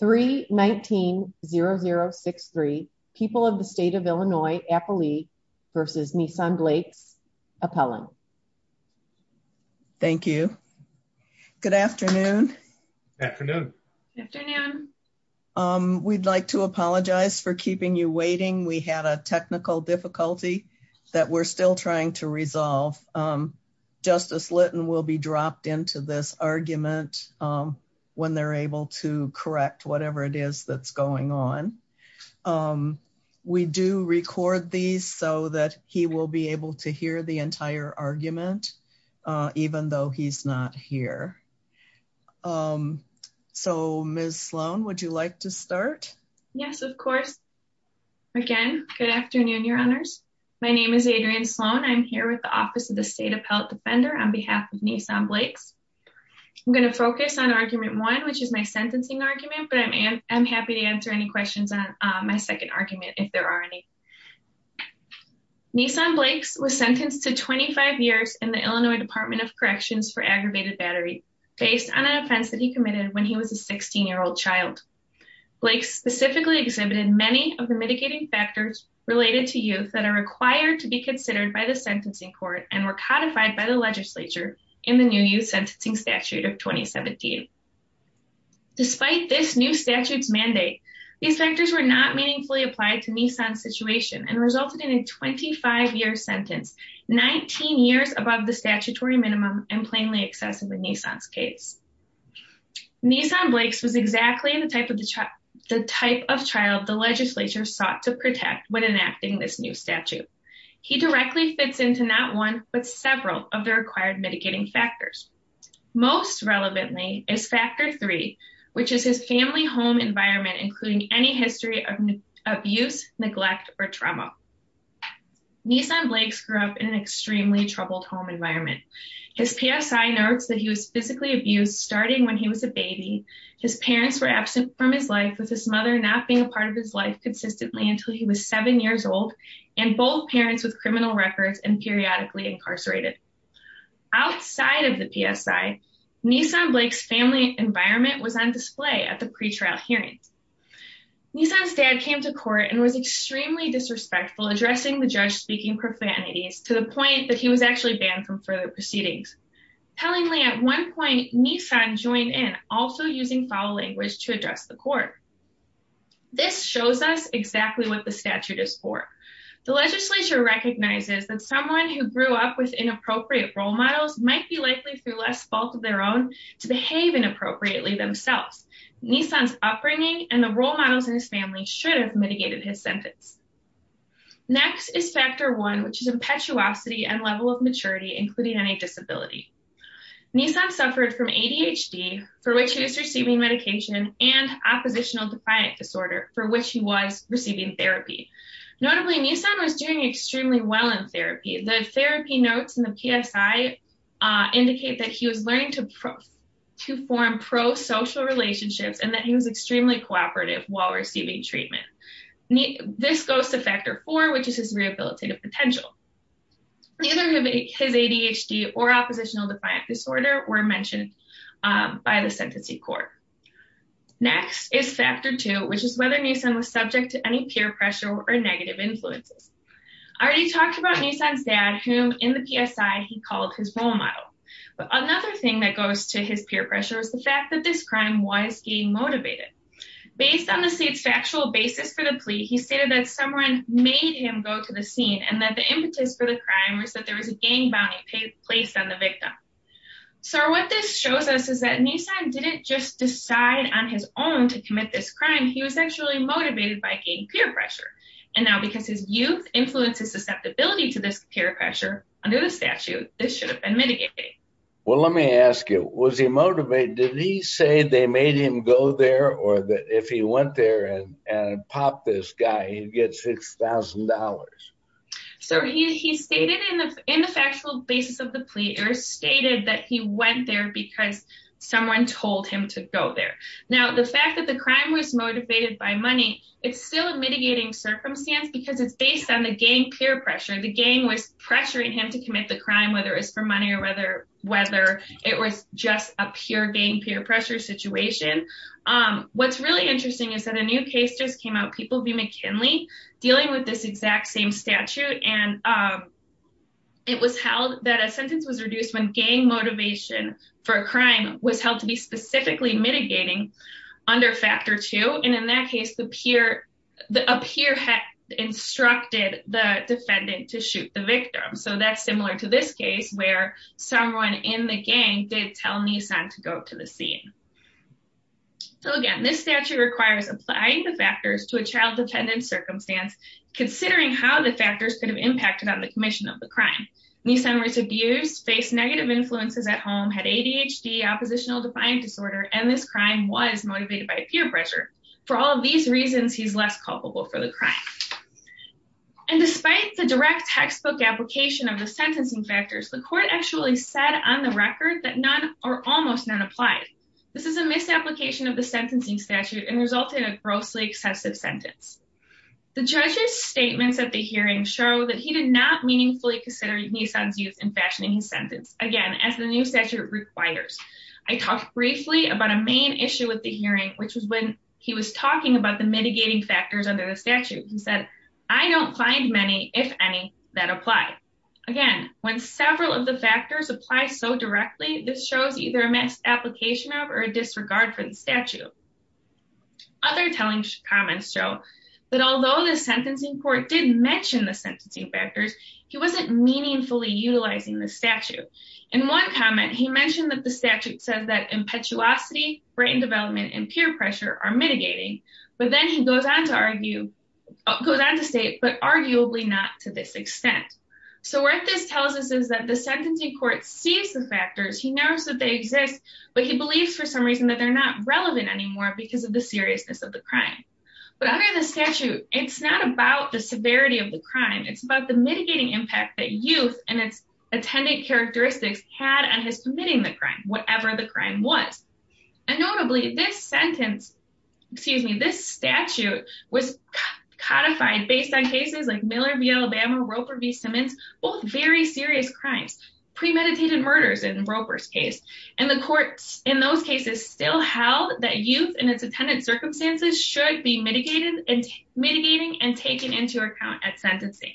319-0063. People of the State of Illinois, Appalachia v. Nissan Blakes, appellant. Thank you. Good afternoon. Good afternoon. We'd like to apologize for keeping you waiting. We had a technical difficulty that we're still trying to resolve. Justice Lytton will be dropped into this argument when they're able to correct whatever it is that's going on. We do record these so that he will be able to hear the entire argument, even though he's not here. So, Ms. Sloan, would you like to start? Yes, of course. Again, good afternoon, Your Honors. My name is Adrienne Sloan. I'm here with the Office of the State Appellate Defender on behalf of Nissan Blakes. I'm going to focus on argument one, which is my sentencing argument, but I'm happy to answer any questions on my second argument, if there are any. Nissan Blakes was sentenced to 25 years in the Illinois Department of Corrections for aggravated battery, based on an offense that he committed when he was a 16-year-old child. Blakes specifically exhibited many of the mitigating factors related to youth that are required to be considered by the sentencing court and were codified by the legislature in the new youth sentencing statute of 2017. Despite this new statute's mandate, these factors were not meaningfully applied to Nissan's situation and resulted in a 25-year sentence, 19 years above the statutory minimum and plainly excessive in Nissan's case. Nissan Blakes was exactly the type of child the legislature sought to protect when enacting this new statute. He directly fits into not one, but several of the required mitigating factors. Most relevantly is factor three, which is his family home environment, including any history of abuse, neglect, or trauma. Nissan Blakes grew up in an extremely troubled home environment. His PSI notes that he was physically abused starting when he was a baby. His parents were absent from his life, with his mother not being a part of his life consistently until he was seven years old and both parents with criminal records and periodically incarcerated. Outside of the PSI, Nissan Blakes' family environment was on display at the pretrial hearings. Nissan's dad came to court and was extremely disrespectful, addressing the judge speaking profanities to the point that he was actually banned from further proceedings. Tellingly, at point, Nissan joined in, also using foul language to address the court. This shows us exactly what the statute is for. The legislature recognizes that someone who grew up with inappropriate role models might be likely, through less fault of their own, to behave inappropriately themselves. Nissan's upbringing and the role models in his family should have mitigated his sentence. Next is factor one, which is impetuosity and level of maturity, including any disability. Nissan suffered from ADHD, for which he was receiving medication, and oppositional defiant disorder, for which he was receiving therapy. Notably, Nissan was doing extremely well in therapy. The therapy notes in the PSI indicate that he was learning to form pro-social relationships and that he was extremely cooperative while receiving treatment. This goes to factor four, which is his rehabilitative potential. Neither his ADHD or oppositional defiant disorder were mentioned by the sentencing court. Next is factor two, which is whether Nissan was subject to any peer pressure or negative influences. I already talked about Nissan's dad, whom, in the PSI, he called his role model. But another thing that goes to his peer pressure is the fact that this crime was getting motivated. Based on the state's factual basis for the plea, he stated that someone made him go to the scene and that the impetus for the crime was that there was a gang bounty placed on the victim. Sir, what this shows us is that Nissan didn't just decide on his own to commit this crime, he was actually motivated by gaining peer pressure. And now, because his youth influences susceptibility to this peer pressure, under the statute, this should have been mitigated. Well, let me ask you, was he motivated? Did he say they made him go there, or that if he went there and popped this guy, he'd get six thousand dollars? So he stated in the factual basis of the plea, he stated that he went there because someone told him to go there. Now, the fact that the crime was motivated by money, it's still a mitigating circumstance because it's based on the gang peer pressure. The gang was pressuring him to commit the crime, whether it's for money or whether it was just a pure gang peer pressure situation. What's really interesting is that a new case just came out, People v. McKinley, dealing with this exact same statute, and it was held that a sentence was reduced when gang motivation for a crime was held to be specifically mitigating under factor two. And in that case, a peer had instructed the defendant to shoot the victim. So that's similar to this case where someone in the gang did tell Nisan to go to the scene. So again, this statute requires applying the factors to a child defendant circumstance, considering how the factors could have impacted on the commission of the crime. Nisan was abused, faced negative influences at home, had ADHD, oppositional defiant disorder, and this crime was motivated by peer pressure. For all of these reasons, he's less culpable for the crime. And despite the direct textbook application of the sentencing factors, the court actually said on the record that none or almost none applied. This is a misapplication of the sentencing statute and resulted in a grossly excessive sentence. The judge's statements at the hearing show that he did not meaningfully consider Nisan's use in fashioning his sentence, again, as the new statute requires. I talked briefly about a main issue with the hearing, which was when he was talking about the mitigating factors under the statute. He said, I don't find many, if any, that apply. Again, when several of the factors apply so directly, this shows either a misapplication of or a disregard for the statute. Other telling comments show that although the sentencing court did mention the sentencing factors, he wasn't meaningfully utilizing the statute. In one comment, he mentioned that the statute says that impetuosity, brain development, and peer pressure are mitigating, but then he goes on to argue, goes on to state, but arguably not to this extent. So what this tells us is that the sentencing court sees the factors, he knows that they exist, but he believes for some reason that they're not relevant anymore because of the seriousness of the crime. But under the statute, it's not about the severity of the crime. It's about the mitigating impact that youth and its attendant characteristics had on his committing the crime, whatever the crime was. And notably, this sentence, excuse me, this statute was codified based on cases like Miller v. Alabama, Roper v. Simmons, both very serious crimes, premeditated murders in Roper's case. And the courts in those cases still held that youth and its attendant circumstances should be mitigating and taken into account at sentencing.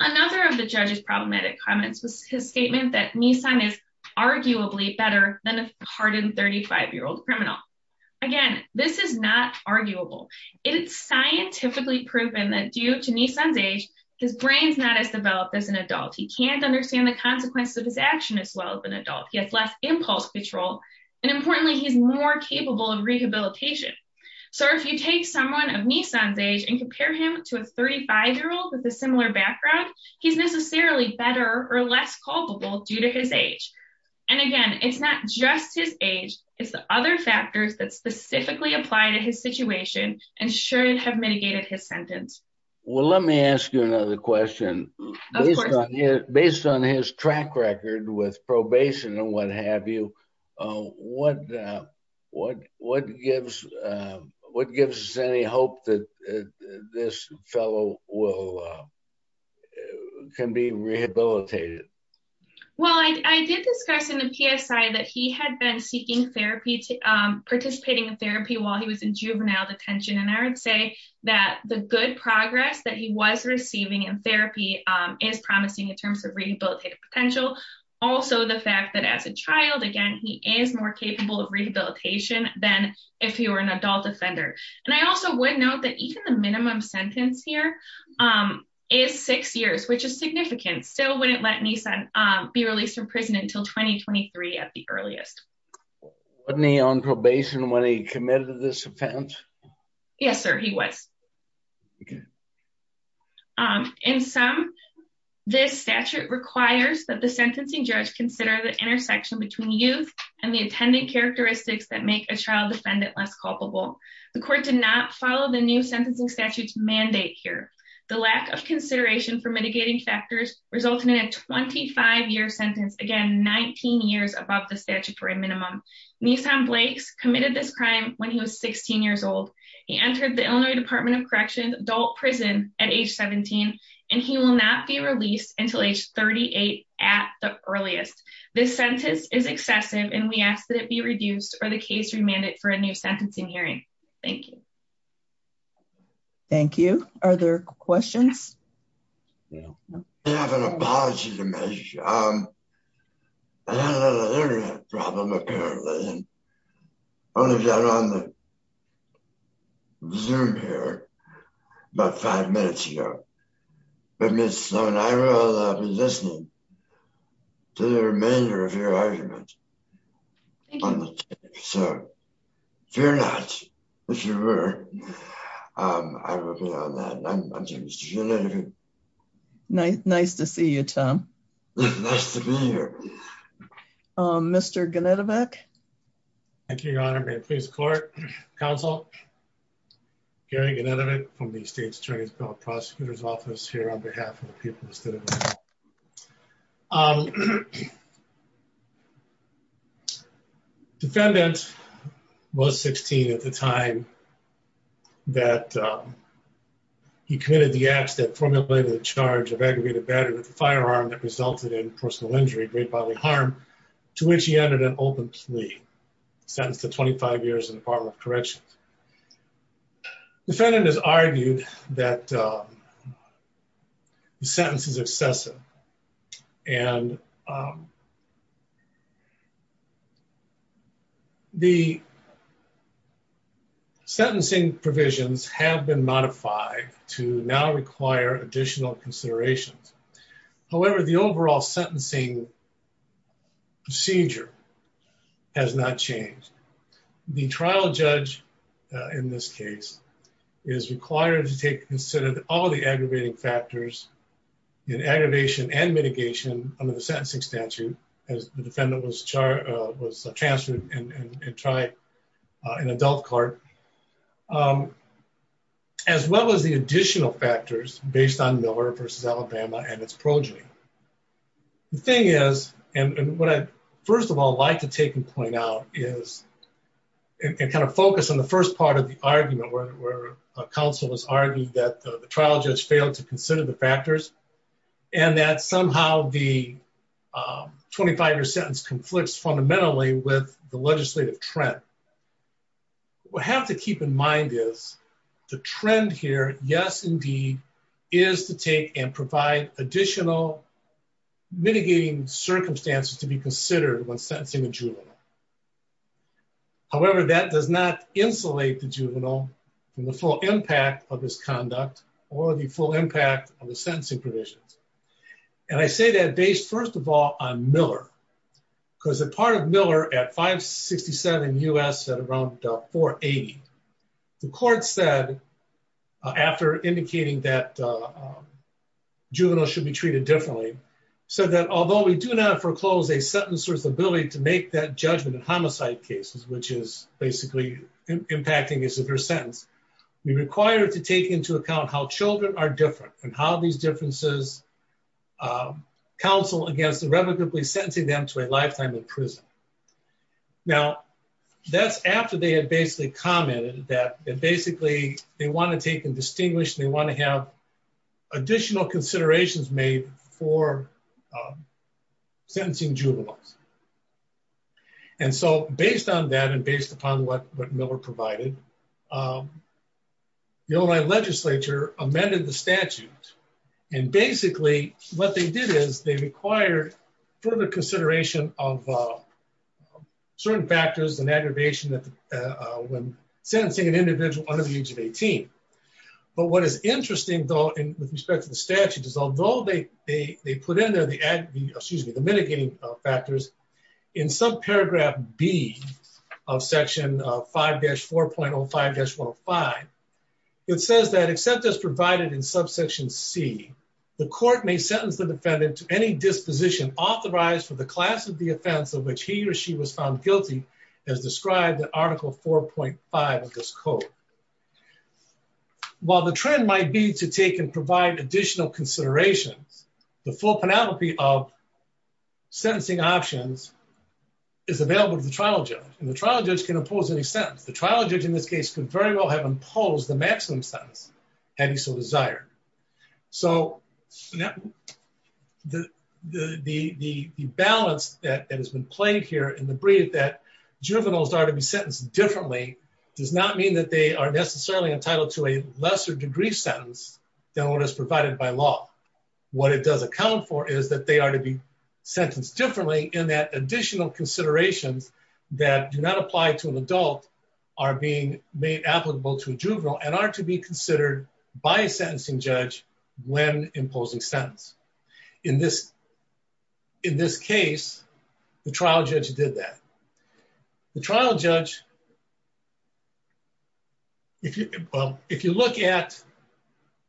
Another of the judge's problematic comments was his statement that Nisan is arguably better than a hardened 35-year-old criminal. Again, this is not arguable. It's scientifically proven that due to Nisan's age, his brain's not as developed as an adult. He can't understand the consequences of his action as well as an adult. He has less impulse control, and importantly, he's more capable of rehabilitation. So if you someone of Nisan's age and compare him to a 35-year-old with a similar background, he's necessarily better or less culpable due to his age. And again, it's not just his age, it's the other factors that specifically apply to his situation and should have mitigated his sentence. Well, let me ask you another question. Based on his track record with probation and what what what gives what gives us any hope that this fellow will can be rehabilitated? Well, I did discuss in the PSI that he had been seeking therapy to participating in therapy while he was in juvenile detention. And I would say that the good progress that he was receiving in therapy is promising in terms of rehabilitative potential. Also, the fact that as a child, again, he is more capable of rehabilitation than if he were an adult offender. And I also would note that even the minimum sentence here is six years, which is significant. Still wouldn't let me be released from prison until 2023 at the earliest. Wasn't he on probation when he committed this offense? Yes, sir, he was. In some, this statute requires that the sentencing judge consider the intersection between youth and the attendant characteristics that make a child defendant less culpable. The court did not follow the new sentencing statutes mandate here. The lack of consideration for mitigating factors resulted in a 25 year sentence, again, 19 years above the statute for a minimum. Nissan Blake's committed this crime when he was 16 years old. He entered the Illinois Department of Corrections adult prison at age 17. And he will not be released until age 38 at the earliest. This sentence is excessive and we ask that it be reduced or the case remanded for a new sentencing hearing. Thank you. Thank you. Are there questions? I have an apology to make. I had a little internet problem apparently. Only got on the Zoom here about five minutes ago. But Ms. Sloan, I will be listening to the remainder of your time. Nice to see you, Tom. Nice to be here. Mr. Genetovic. Thank you, Your Honor. May it please the court, counsel. Gary Genetovic from the State's Attorney's Bill of Prosecutor's Office here on behalf of the people of the state of Illinois. Defendant was 16 at the time that he committed the acts that formulated the charge of aggravated battery with a firearm that resulted in personal injury, great bodily harm, to which he entered an open plea, sentenced to 25 years in the Department of Corrections. Defendant has argued that the sentence is excessive and the sentencing provisions have been modified to now require additional considerations. However, the overall sentencing procedure has not changed. The trial judge in this case is required to consider all the aggravating factors in aggravation and mitigation under the sentencing statute as the defendant was transferred and tried an adult cart, as well as the additional factors based on Miller v. Alabama and its progeny. The thing is, and what I'd first of all like to take and point out is, and kind of focus on the first part of the argument where a counsel has argued that the trial judge failed to consider the factors and that somehow the 25-year sentence conflicts fundamentally with the legislative trend. What we have to keep in mind is the trend here, yes, indeed, is to take and provide additional mitigating circumstances to be considered when sentencing a juvenile. However, that does not insulate the juvenile from the full impact of this conduct or the full impact of the sentencing provisions. And I say that based, first of all, on Miller, because a part of Miller at 567 U.S. at around 480, the court said, after indicating that juveniles should be treated differently, said that although we do not foreclose a sentencer's ability to make that judgment in homicide cases, which is basically impacting his or her sentence, we require to take into account how children are different and how these differences counsel against irrevocably sentencing them to a lifetime in prison. Now that's after they had basically commented that basically they want to take and they want to have additional considerations made for sentencing juveniles. And so based on that and based upon what Miller provided, the Ohio legislature amended the statute and basically what they did is they required further consideration of certain factors and age of 18. But what is interesting though with respect to the statute is although they put in there the mitigating factors, in subparagraph B of section 5-4.05-105, it says that except as provided in subsection C, the court may sentence the defendant to any disposition authorized for the class of the offense of which he or she was found guilty as described in article 4.5 of this statute. While the trend might be to take and provide additional considerations, the full panoply of sentencing options is available to the trial judge and the trial judge can impose any sentence. The trial judge in this case could very well have imposed the maximum sentence had he so desired. So the balance that has been played here in the brief that they are necessarily entitled to a lesser degree sentence than what is provided by law. What it does account for is that they are to be sentenced differently in that additional considerations that do not apply to an adult are being made applicable to a juvenile and are to be considered by a sentencing judge when imposing sentence. In this case, the trial judge did that. The trial judge, well, if you look at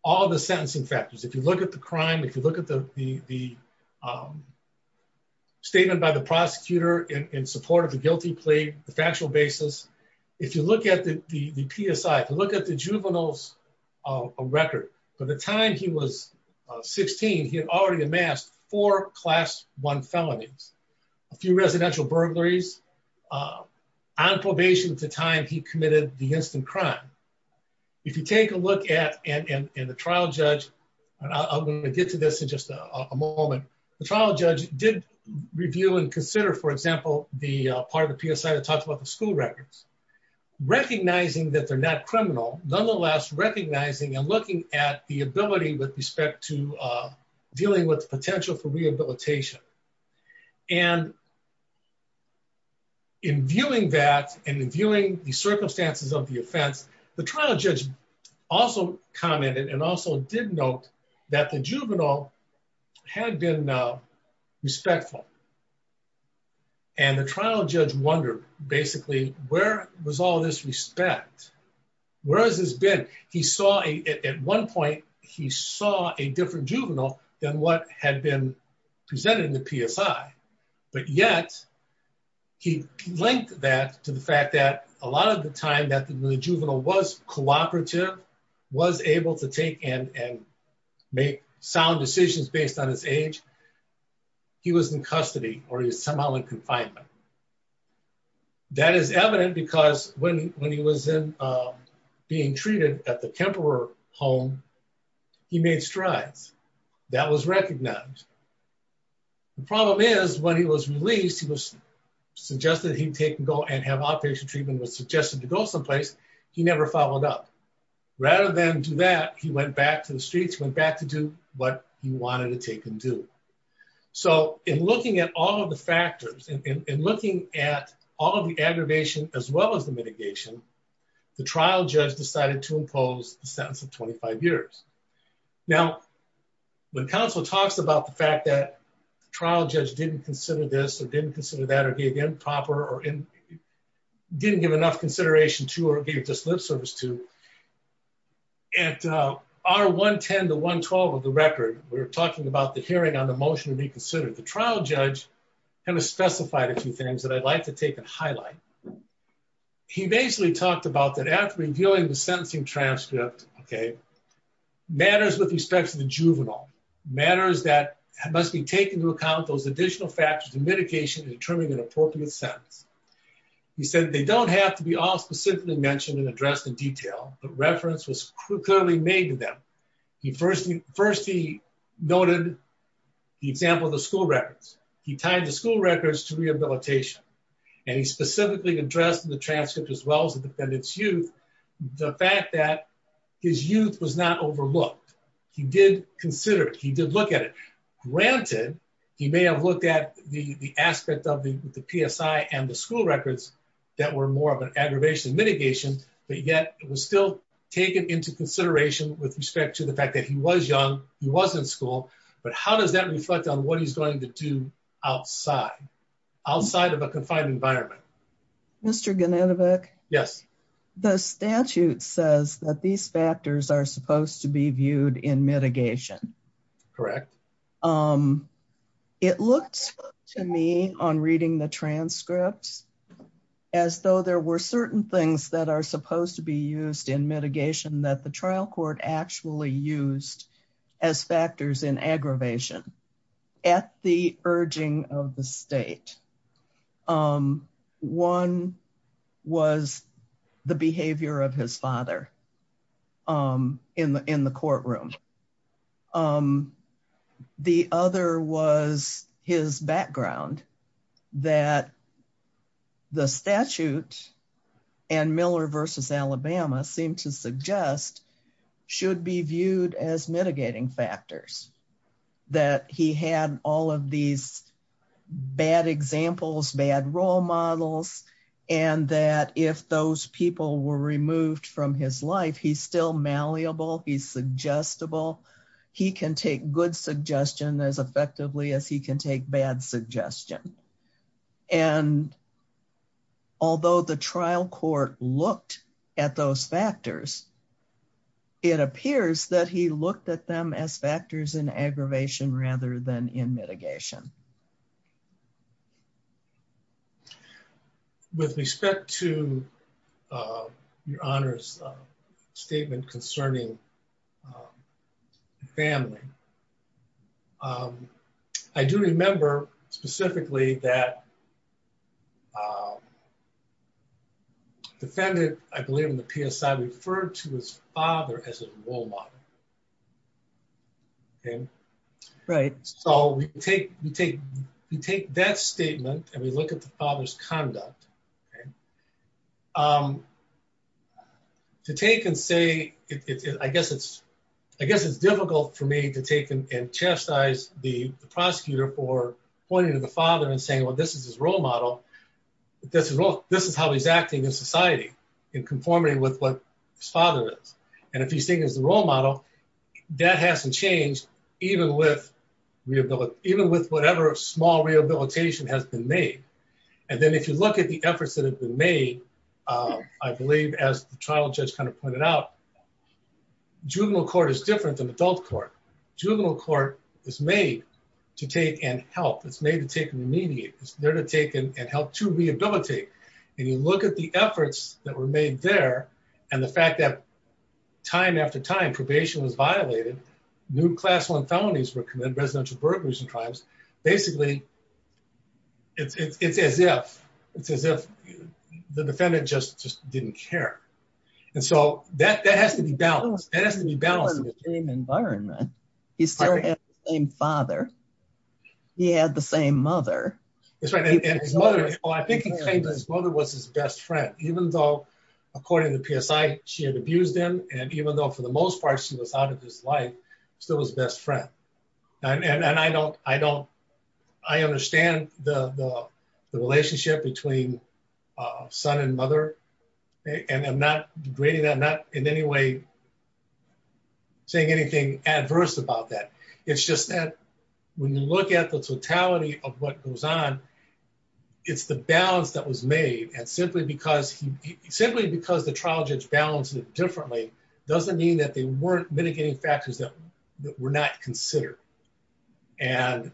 all the sentencing factors, if you look at the crime, if you look at the statement by the prosecutor in support of the guilty plea, the factual basis, if you look at the PSI, if you look at the juvenile's record, by the time he was 16, he had already amassed four class one felonies, a few residential burglaries, on probation at the time he committed the instant crime. If you take a look at, and the trial judge, I'm going to get to this in just a moment, the trial judge did review and consider, for example, the part of the PSI that talks about the school records, recognizing that they're not criminal, nonetheless, recognizing and looking at the ability with respect to dealing with the potential for rehabilitation. And in viewing that and in viewing the circumstances of the offense, the trial judge also commented and also did note that the juvenile had been respectful. And the trial judge wondered, basically, where was all this respect? Where has this been? He saw, at one point, he saw a different juvenile than what had been presented in the PSI. But yet, he linked that to the fact that a lot of the time that the juvenile was cooperative, was able to take and make sound decisions based on his age, he was in custody, or he was somehow in confinement. That is evident, because when he was being treated at the Kemperer home, he made strides. That was recognized. The problem is, when he was released, he was suggested he'd take and go and have outpatient treatment was suggested to go someplace, he never followed up. Rather than do that, he went back to the streets, went back to do what he wanted to take and do. So in looking at all of the factors and looking at all of the aggravation, as well as the mitigation, the trial judge decided to impose the sentence of 25 years. Now, when counsel talks about the fact that the trial judge didn't consider this or didn't consider that or gave improper or didn't give enough consideration to or gave just lip service to at our 110 to 112 of the record, we're talking about the hearing on the motion to be considered the trial judge, and a specified a few things that I'd like to take a highlight. He basically talked about that after reviewing the sentencing transcript, okay, matters with respect to the juvenile matters that must be taken to account those additional factors and mitigation to determine an appropriate sentence. He said they don't have to be all specifically mentioned and addressed in detail, but reference was clearly made to them. First, he noted the example of the school records. He tied the school records to rehabilitation, and he specifically addressed the transcript as well as the defendant's youth, the fact that his youth was not overlooked. He did consider it. He did look at it. Granted, he may have looked at the aspect of the PSI and the school records that were more of an aggravation mitigation, but yet it was still taken into consideration with respect to the fact that he was young. He was in school, but how does that reflect on what he's going to do outside, outside of a confined environment? Mr. Ganetovic? Yes. The statute says that these factors are supposed to be viewed in mitigation. Correct. It looked to me on reading the transcripts as though there were certain things that are supposed to be used in mitigation that the trial court actually used as factors in aggravation at the urging of the state. One was the behavior of his father in the courtroom. The other was his background, that the statute and Miller v. Alabama seem to suggest should be viewed as mitigating factors, that he had all of these bad examples, bad role models, and that if those people were removed from his life, he's still malleable. He's suggestible. He can take good suggestion as effectively as he can take bad suggestion. Although the trial court looked at those factors, it appears that he looked at them as factors in aggravation rather than in mitigation. With respect to your Honor's statement concerning family, I do remember specifically that defendant, I believe in the PSI, referred to his father as a role model. Right. So, we take that statement and we look at the father's conduct. To take and say, I guess it's difficult for me to take and chastise the prosecutor for pointing to the father and saying, well, this is his role model. This is how he's acting in society in conformity with what his father is. And if he's seen as the role model, that hasn't changed, even with whatever small rehabilitation has been made. And then if you look at the efforts that have been made, I believe as the trial judge kind of pointed out, juvenile court is different than adult court. Juvenile court is made to take and help. It's made to take and remediate. It's there and helped to rehabilitate. And you look at the efforts that were made there and the fact that time after time, probation was violated, new class one felonies were committed, residential burglars and crimes. Basically, it's as if the defendant just didn't care. And so, that has to be balanced. That has to be balanced in the same environment. He still had the same father. He had the same mother. That's right. And his mother, I think he claimed that his mother was his best friend, even though according to PSI, she had abused him. And even though for the most part, she was out of his life, still his best friend. And I understand the relationship between son and mother. And I'm not degrading that. I'm not in any way saying anything adverse about that. It's just that when you look at the totality of what goes on, it's the balance that was made. And simply because the trial judge balanced it differently doesn't mean that they weren't mitigating factors that were not considered. And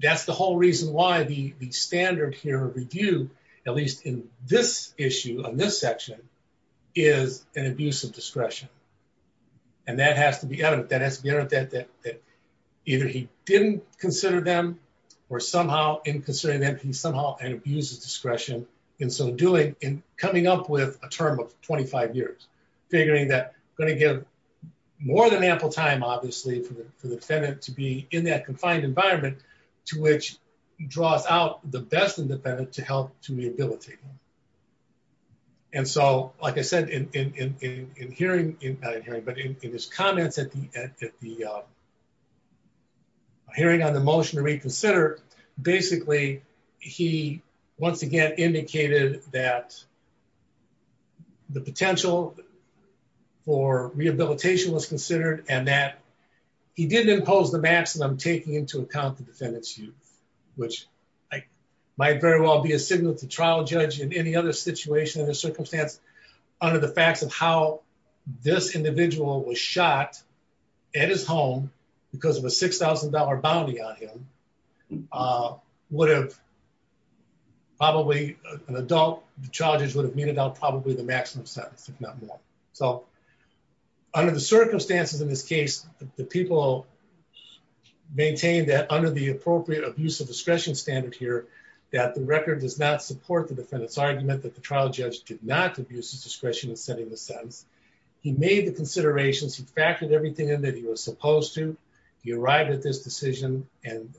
that's the whole reason why the standard here of review, at least in this issue on this section, is an abuse of discretion. And that has to be evident. That has to be evident that either he didn't consider them or somehow in considering them, he somehow abuses discretion. And so, in coming up with a term of 25 years, figuring that going to give more than ample time, obviously, for the defendant to be in that confined environment, to which draws out the best independent to help to rehabilitate. And so, like I said, in hearing, but in his comments at the hearing on the motion to reconsider, basically, he once again indicated that the potential for rehabilitation was considered and that he didn't impose the defendant's youth, which might very well be a signal to trial judge in any other situation or circumstance under the facts of how this individual was shot at his home because of a $6,000 bounty on him, would have probably an adult charges would have been about probably the maximum sentence, if not more. So, under the circumstances in this case, the people maintain that under the appropriate abuse of discretion standard here, that the record does not support the defendant's argument that the trial judge did not abuse his discretion in setting the sentence. He made the considerations, he factored everything in that he was supposed to, he arrived at this decision and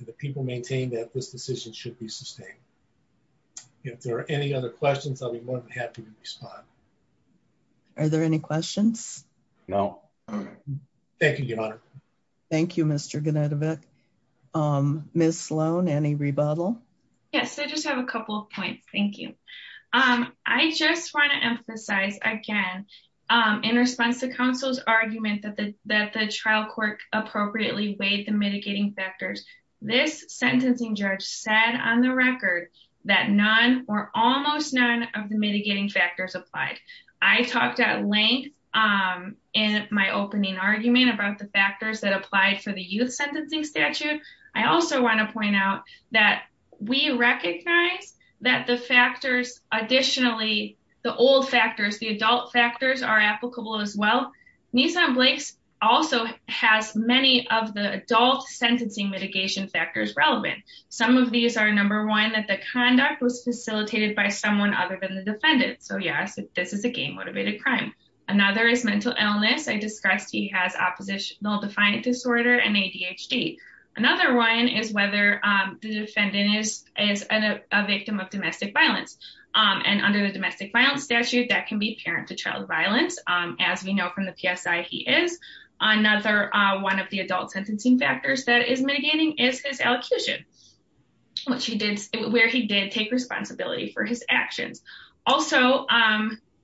the people maintain that this decision should be sustained. If there are any other questions, I'll be more than happy to respond. Are there any questions? No. Thank you, Your Honor. Thank you, Mr. Genetovic. Ms. Sloan, any rebuttal? Yes, I just have a couple of points. Thank you. I just want to emphasize again, in response to counsel's argument that the trial court appropriately weighed the mitigating factors, this sentencing judge said on the record that none or almost none of the mitigating factors applied. I talked at length in my opening argument about the factors that applied for the youth sentencing statute. I also want to point out that we recognize that the factors, additionally, the old factors, the adult factors are applicable as well. Nisan Blake's also has many of the adult sentencing mitigation factors relevant. Some of these are number one, that the conduct was facilitated by someone other than the defendant. Yes, this is a gay-motivated crime. Another is mental illness. I discussed he has oppositional defiant disorder and ADHD. Another one is whether the defendant is a victim of domestic violence. Under the domestic violence statute, that can be apparent to child violence. As we know from the PSI, he is. Another one of the adult sentencing factors that is mitigating is his elocution, where he did take responsibility for his actions. Also,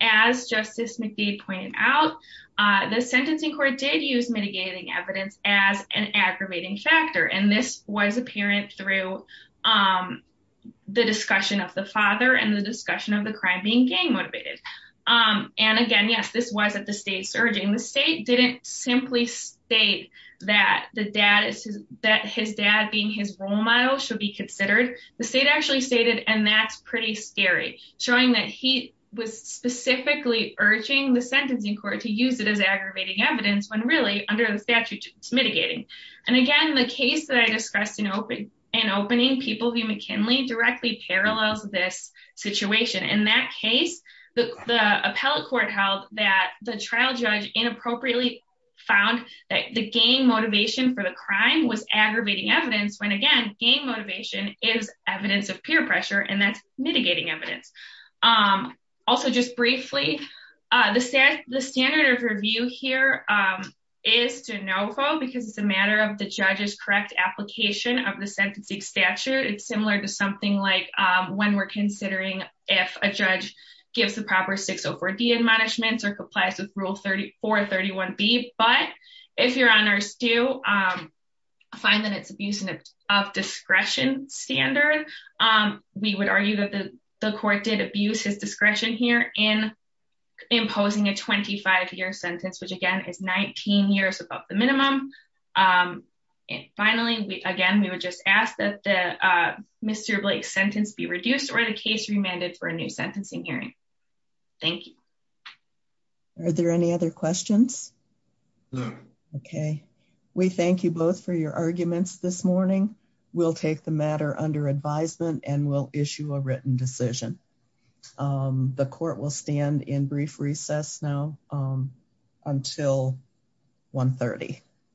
as Justice McDade pointed out, the sentencing court did use mitigating evidence as an aggravating factor. This was apparent through the discussion of the father and the discussion of the crime being gay-motivated. And again, yes, this was at the state's urging. The state didn't simply state that his dad being his role model should be considered. The state actually stated, and that's pretty scary, showing that he was specifically urging the sentencing court to use it as aggravating evidence when really, under the statute, it's mitigating. And again, the case that I discussed in opening, People v. McKinley, directly parallels this situation. In that case, the appellate court held that the trial judge inappropriately found that the gay motivation for the crime was aggravating evidence, when again, gay motivation is evidence of peer pressure, and that's mitigating evidence. Also, just briefly, the standard of review here is de novo, because it's a matter of the judge's correct application of the sentencing statute. It's similar to something like when we're considering if a judge gives the proper 604D admonishments or complies with Rule 431B. But if your honors do find that it's abuse of discretion standard, we would argue that the court did abuse his discretion here in imposing a 25-year sentence, which again, is 19 years above minimum. And finally, again, we would just ask that the Mr. Blake's sentence be reduced or the case remanded for a new sentencing hearing. Thank you. Are there any other questions? Okay. We thank you both for your arguments this morning. We'll take the matter under advisement and we'll issue a written decision. The court will stand in brief recess now until 1.30.